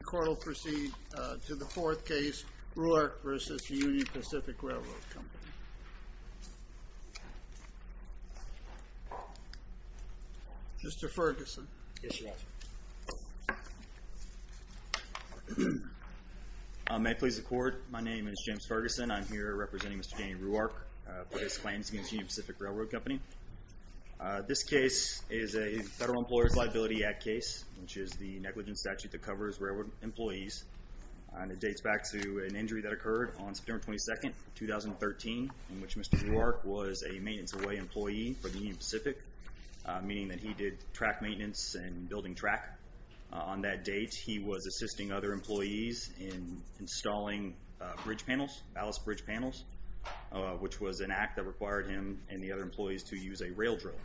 The court will proceed to the fourth case, Ruark v. Union Pacific Railroad Company. Mr. Ferguson. Yes, Your Honor. May it please the court, my name is James Ferguson. I'm here representing Mr. Danny Ruark for his claims against Union Pacific Railroad Company. This case is a Federal Employers Liability Act case, which is the negligence statute that covers railroad employees. And it dates back to an injury that occurred on September 22, 2013, in which Mr. Ruark was a maintenance away employee for the Union Pacific, meaning that he did track maintenance and building track. On that date, he was assisting other employees in installing bridge panels, ballast bridge panels, which was an act that required him and the other employees to use a rail drill.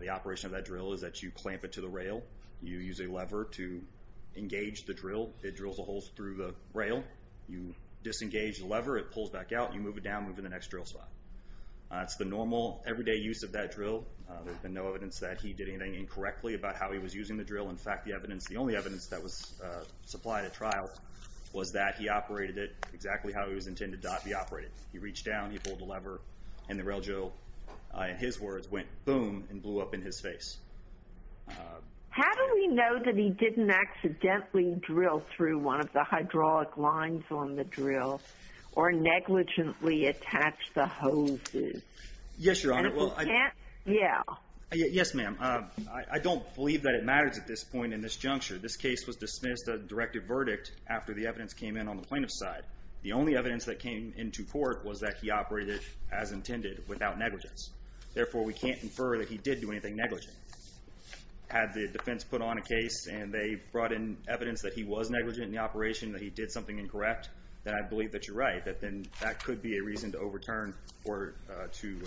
The operation of that drill is that you clamp it to the rail, you use a lever to engage the drill, it drills a hole through the rail, you disengage the lever, it pulls back out, you move it down, move it to the next drill spot. It's the normal, everyday use of that drill. There's been no evidence that he did anything incorrectly about how he was using the drill. In fact, the evidence, the only evidence that was supplied at trial, was that he operated it exactly how it was intended to be operated. He reached down, he pulled the lever, and the rail drill, in his words, went boom and blew up in his face. How do we know that he didn't accidentally drill through one of the hydraulic lines on the drill, or negligently attach the hoses? Yes, Your Honor. And if he can't, yeah. Yes, ma'am. I don't believe that it matters at this point in this juncture. This case was dismissed as a directive verdict after the evidence came in on the plaintiff's side. The only evidence that came into court was that he operated it as intended, without negligence. Therefore, we can't infer that he did do anything negligent. Had the defense put on a case and they brought in evidence that he was negligent in the operation, that he did something incorrect, then I believe that you're right, that then that could be a reason to overturn or to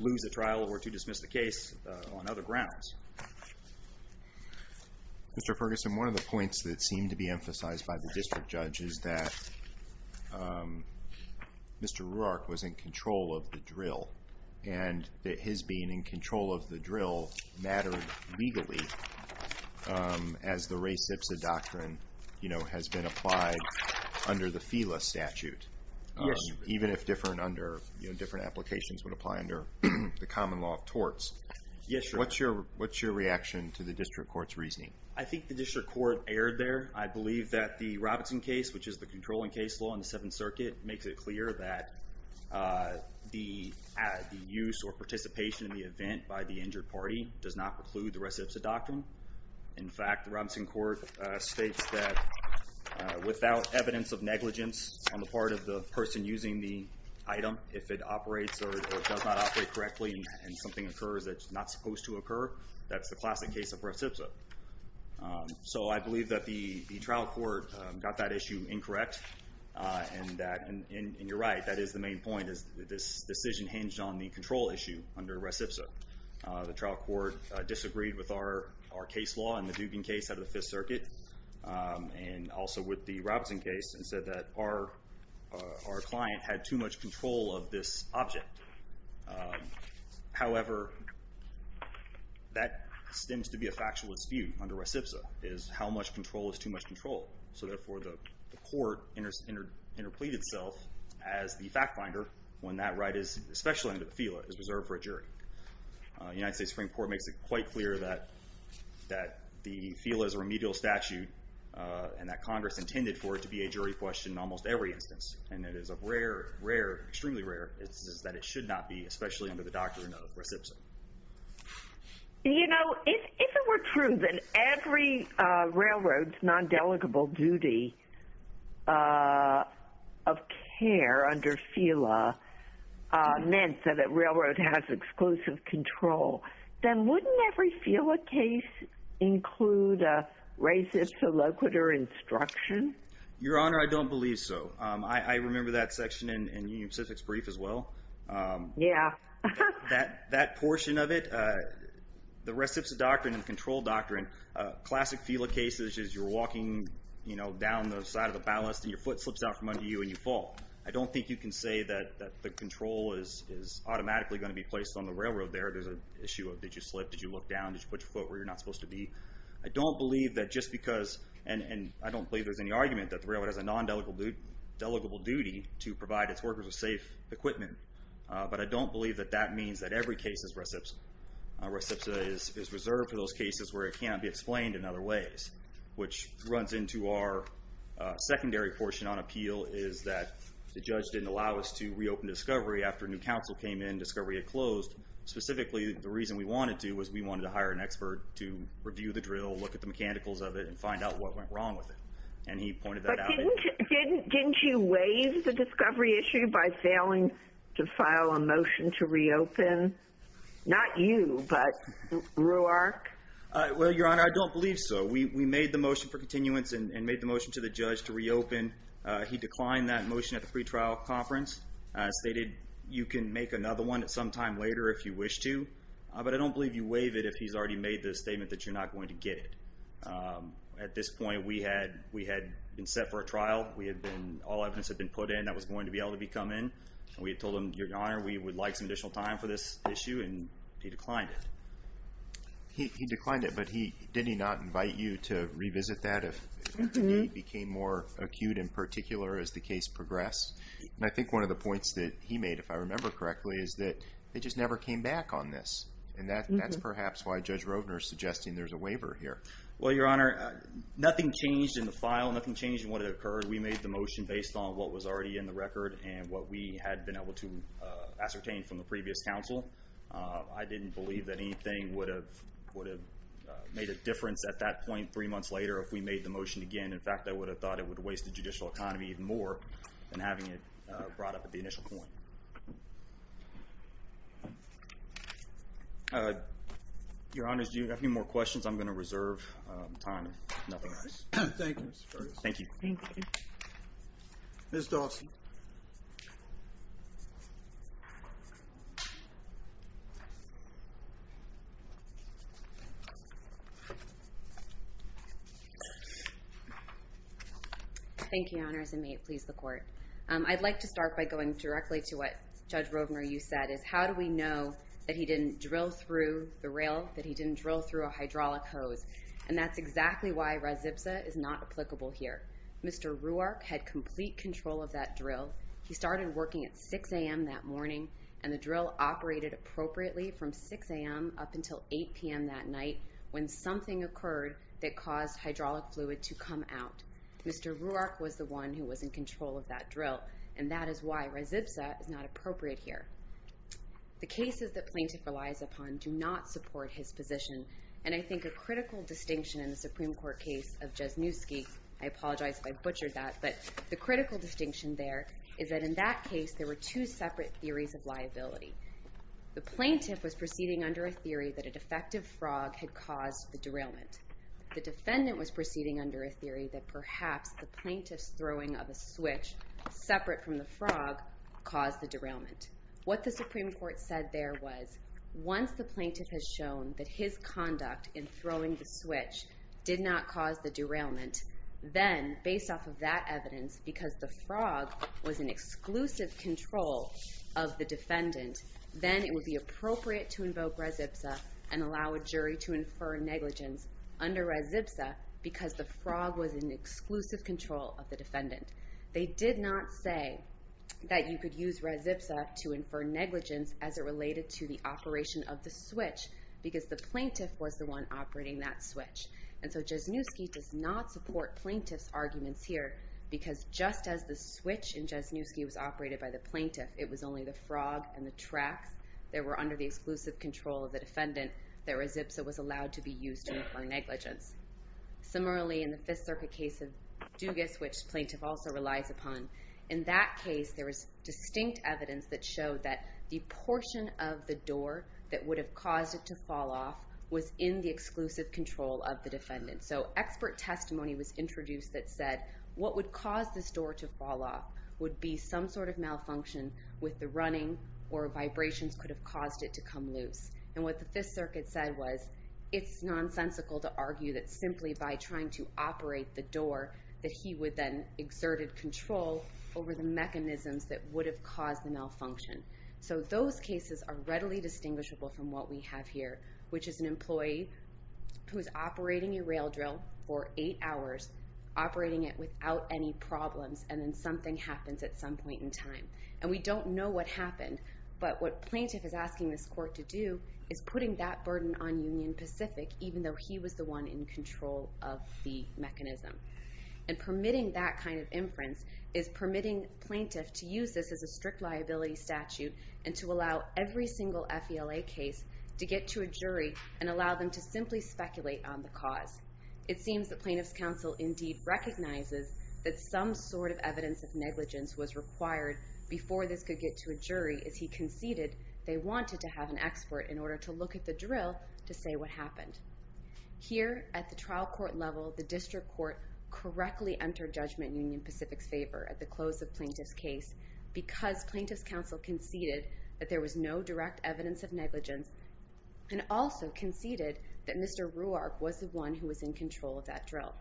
lose the trial or to dismiss the case on other grounds. Mr. Ferguson, one of the points that seemed to be emphasized by the district judge is that Mr. Roark was in control of the drill and that his being in control of the drill mattered legally, as the res ipsa doctrine has been applied under the FILA statute. Yes, Your Honor. Even if different applications would apply under the common law of torts. Yes, Your Honor. What's your reaction to the district court's reasoning? I think the district court erred there. I believe that the Robinson case, which is the controlling case law in the Seventh Circuit, makes it clear that the use or participation in the event by the injured party does not preclude the res ipsa doctrine. In fact, the Robinson court states that without evidence of negligence on the part of the person using the item, if it operates or does not operate correctly and something occurs that's not supposed to occur, that's the classic case of res ipsa. So I believe that the trial court got that issue incorrect and you're right, that is the main point is that this decision hinged on the control issue under res ipsa. The trial court disagreed with our case law in the Dubin case out of the Fifth Circuit and also with the Robinson case and said that our client had too much control of this object. However, that stems to be a factual dispute under res ipsa is how much control is too much control. So therefore, the court interpleaded itself as the fact finder when that right, especially under the FILA, is reserved for a jury. The United States Supreme Court makes it quite clear that the FILA is a remedial statute and that Congress intended for it to be a jury question in almost every instance. And it is a rare, rare, extremely rare instance that it should not be, especially under the doctrine of res ipsa. You know, if it were true that every railroad's non-delegable duty of care under FILA meant that a railroad has exclusive control, then wouldn't every FILA case include a racist, soloquitur instruction? Your Honor, I don't believe so. I remember that section in Union Pacific's brief as well. Yeah. That portion of it, the res ipsa doctrine and the control doctrine, classic FILA cases is you're walking, you know, down the side of the ballast and your foot slips out from under you and you fall. I don't think you can say that the control is automatically going to be placed on the railroad there. There's an issue of did you slip, did you look down, did you put your foot where you're not supposed to be. I don't believe that just because, and I don't believe there's any argument that the railroad has a non-delegable duty to provide its workers with safe equipment. But I don't believe that that means that every case is res ipsa. Res ipsa is reserved for those cases where it can't be explained in other ways. Which runs into our secondary portion on appeal, is that the judge didn't allow us to reopen Discovery after new counsel came in, Discovery had closed. Specifically, the reason we wanted to was we wanted to hire an expert to review the drill, look at the mechanicals of it, and find out what went wrong with it. And he pointed that out. But didn't you waive the Discovery issue by failing to file a motion to reopen? Not you, but Roark. Well, Your Honor, I don't believe so. We made the motion for continuance and made the motion to the judge to reopen. He declined that motion at the pretrial conference. He stated, you can make another one at some time later if you wish to. But I don't believe you waive it if he's already made the statement that you're not going to get it. At this point, we had been set for a trial. All evidence had been put in that was going to be able to come in. We had told him, Your Honor, we would like some additional time for this issue, and he declined it. He declined it, but did he not invite you to revisit that if the need became more acute in particular as the case progressed? And I think one of the points that he made, if I remember correctly, is that they just never came back on this. And that's perhaps why Judge Rovner is suggesting there's a waiver here. Well, Your Honor, nothing changed in the file. Nothing changed in what had occurred. We made the motion based on what was already in the record and what we had been able to ascertain from the previous counsel. I didn't believe that anything would have made a difference at that point three months later if we made the motion again. In fact, I would have thought it would have wasted judicial economy even more than having it brought up at the initial point. Your Honors, do you have any more questions? I'm going to reserve time if nothing else. Thank you, Mr. Curtis. Thank you. Ms. Dawson. Thank you, Your Honors, and may it please the Court. I'd like to start by going directly to what Judge Rovner, you said, is how do we know that he didn't drill through the rail, that he didn't drill through a hydraulic hose? And that's exactly why res ipsa is not applicable here. Mr. Ruark had complete control of that drill. He started working at 6 a.m. that morning, and the drill operated appropriately from 6 a.m. up until 8 p.m. that night when something occurred that caused hydraulic fluid to come out. Mr. Ruark was the one who was in control of that drill, and that is why res ipsa is not appropriate here. The cases that plaintiff relies upon do not support his position, and I think a critical distinction in the Supreme Court case of Jasnewski, I apologize if I butchered that, but the critical distinction there is that in that case there were two separate theories of liability. The plaintiff was proceeding under a theory that a defective frog had caused the derailment. The defendant was proceeding under a theory that perhaps the plaintiff's throwing of a switch separate from the frog caused the derailment. What the Supreme Court said there was once the plaintiff has shown that his conduct in throwing the switch did not cause the derailment, then based off of that evidence, because the frog was in exclusive control of the defendant, then it would be appropriate to invoke res ipsa and allow a jury to infer negligence under res ipsa, because the frog was in exclusive control of the defendant. They did not say that you could use res ipsa to infer negligence as it related to the operation of the switch, because the plaintiff was the one operating that switch. And so Jasnewski does not support plaintiff's arguments here, because just as the switch in Jasnewski was operated by the plaintiff, it was only the frog and the tracks that were under the exclusive control of the defendant that res ipsa was allowed to be used to infer negligence. Similarly, in the Fifth Circuit case of Dugas, which plaintiff also relies upon, in that case there was distinct evidence that showed that the portion of the door that would have caused it to fall off was in the exclusive control of the defendant. So expert testimony was introduced that said what would cause this door to fall off would be some sort of malfunction with the running or vibrations could have caused it to come loose. And what the Fifth Circuit said was it's nonsensical to argue that simply by trying to operate the door that he would then exerted control over the mechanisms that would have caused the malfunction. So those cases are readily distinguishable from what we have here, which is an employee who is operating a rail drill for eight hours, operating it without any problems, and then something happens at some point in time. And we don't know what happened, but what plaintiff is asking this court to do is putting that burden on Union Pacific, even though he was the one in control of the mechanism. And permitting that kind of inference is permitting plaintiff to use this as a strict liability statute and to allow every single FELA case to get to a jury and allow them to simply speculate on the cause. It seems that plaintiff's counsel indeed recognizes that some sort of evidence of negligence was required before this could get to a jury as he conceded they wanted to have an expert in order to look at the drill to say what happened. Here at the trial court level, the district court correctly entered Judgment Union Pacific's favor at the close of plaintiff's case because plaintiff's counsel conceded that there was no direct evidence of negligence and also conceded that Mr. Roark was the one who was in control of that drill.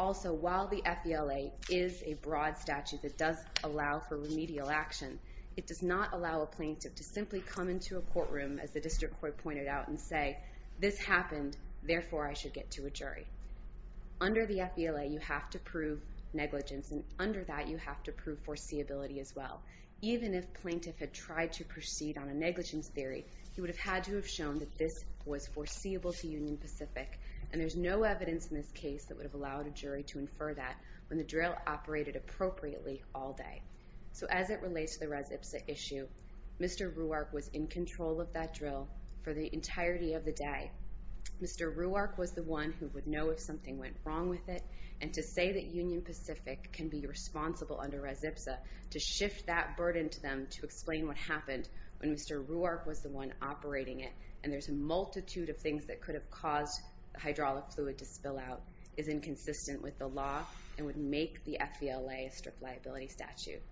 Also, while the FELA is a broad statute that does allow for remedial action, it does not allow a plaintiff to simply come into a courtroom, as the district court pointed out, and say, this happened, therefore I should get to a jury. Under the FELA, you have to prove negligence, and under that you have to prove foreseeability as well. Even if plaintiff had tried to proceed on a negligence theory, he would have had to have shown that this was foreseeable to Union Pacific, and there's no evidence in this case that would have allowed a jury to infer that when the drill operated appropriately all day. So as it relates to the res ipsa issue, Mr. Roark was in control of that drill for the entirety of the day. Mr. Roark was the one who would know if something went wrong with it, and to say that Union Pacific can be responsible under res ipsa, to shift that burden to them to explain what happened when Mr. Roark was the one operating it, and there's a multitude of things that could have caused the hydraulic fluid to spill out, is inconsistent with the law, and would make the FELA a strict liability statute.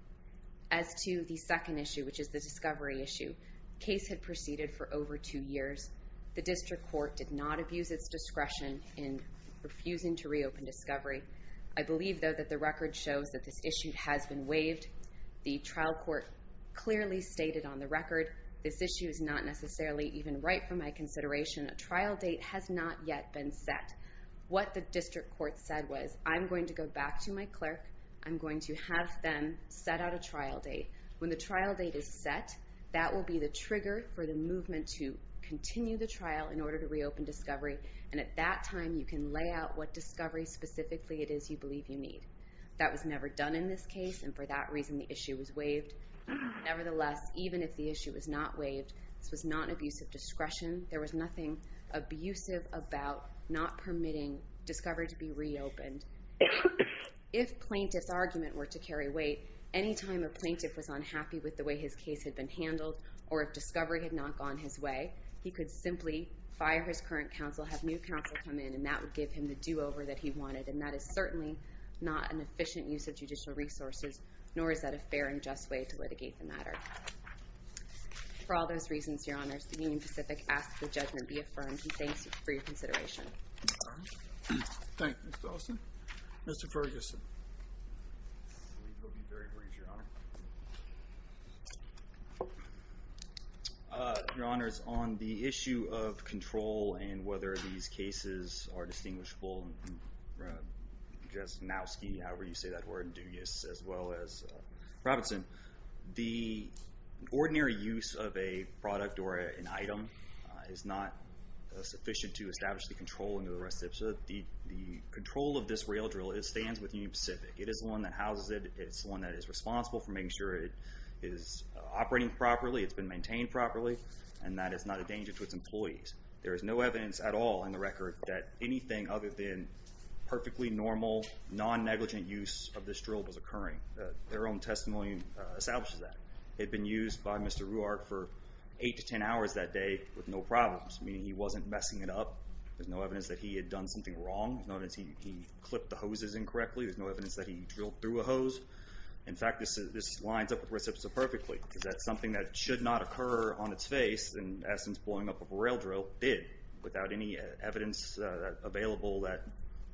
As to the second issue, which is the discovery issue, the case had proceeded for over two years. The district court did not abuse its discretion in refusing to reopen discovery. I believe, though, that the record shows that this issue has been waived. The trial court clearly stated on the record, this issue is not necessarily even right for my consideration. A trial date has not yet been set. What the district court said was, I'm going to go back to my clerk. I'm going to have them set out a trial date. When the trial date is set, that will be the trigger for the movement to continue the trial in order to reopen discovery, and at that time you can lay out what discovery specifically it is you believe you need. That was never done in this case, and for that reason the issue was waived. Nevertheless, even if the issue was not waived, this was not an abuse of discretion. There was nothing abusive about not permitting discovery to be reopened. If plaintiff's argument were to carry weight, any time a plaintiff was unhappy with the way his case had been handled or if discovery had not gone his way, he could simply fire his current counsel, have new counsel come in, and that would give him the do-over that he wanted, and that is certainly not an efficient use of judicial resources, nor is that a fair and just way to litigate the matter. For all those reasons, Your Honors, the Union Pacific asks that judgment be affirmed, and thanks for your consideration. Thank you, Mr. Austin. Mr. Ferguson. Your Honors, on the issue of control and whether these cases are distinguishable, just nowski, however you say that word, dubious, as well as Robinson, the ordinary use of a product or an item is not sufficient to establish the controlling of the rest of it. So the control of this rail drill, it stands with Union Pacific. It is the one that houses it. It is the one that is responsible for making sure it is operating properly, it's been maintained properly, and that it's not a danger to its employees. There is no evidence at all in the record that anything other than perfectly normal, non-negligent use of this drill was occurring. Their own testimony establishes that. It had been used by Mr. Ruark for 8 to 10 hours that day with no problems, meaning he wasn't messing it up. There's no evidence that he had done something wrong. There's no evidence that he clipped the hoses incorrectly. There's no evidence that he drilled through a hose. In fact, this lines up with reciprocity perfectly, because that's something that should not occur on its face, in essence, blowing up a rail drill did, without any evidence available that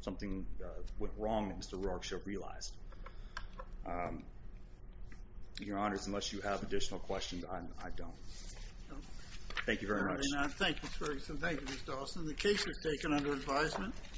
something went wrong that Mr. Ruark should have realized. Your Honors, unless you have additional questions, I don't. Thank you very much. Thank you, Mr. Ferguson. Thank you, Mr. Dawson. The case is taken under advisement.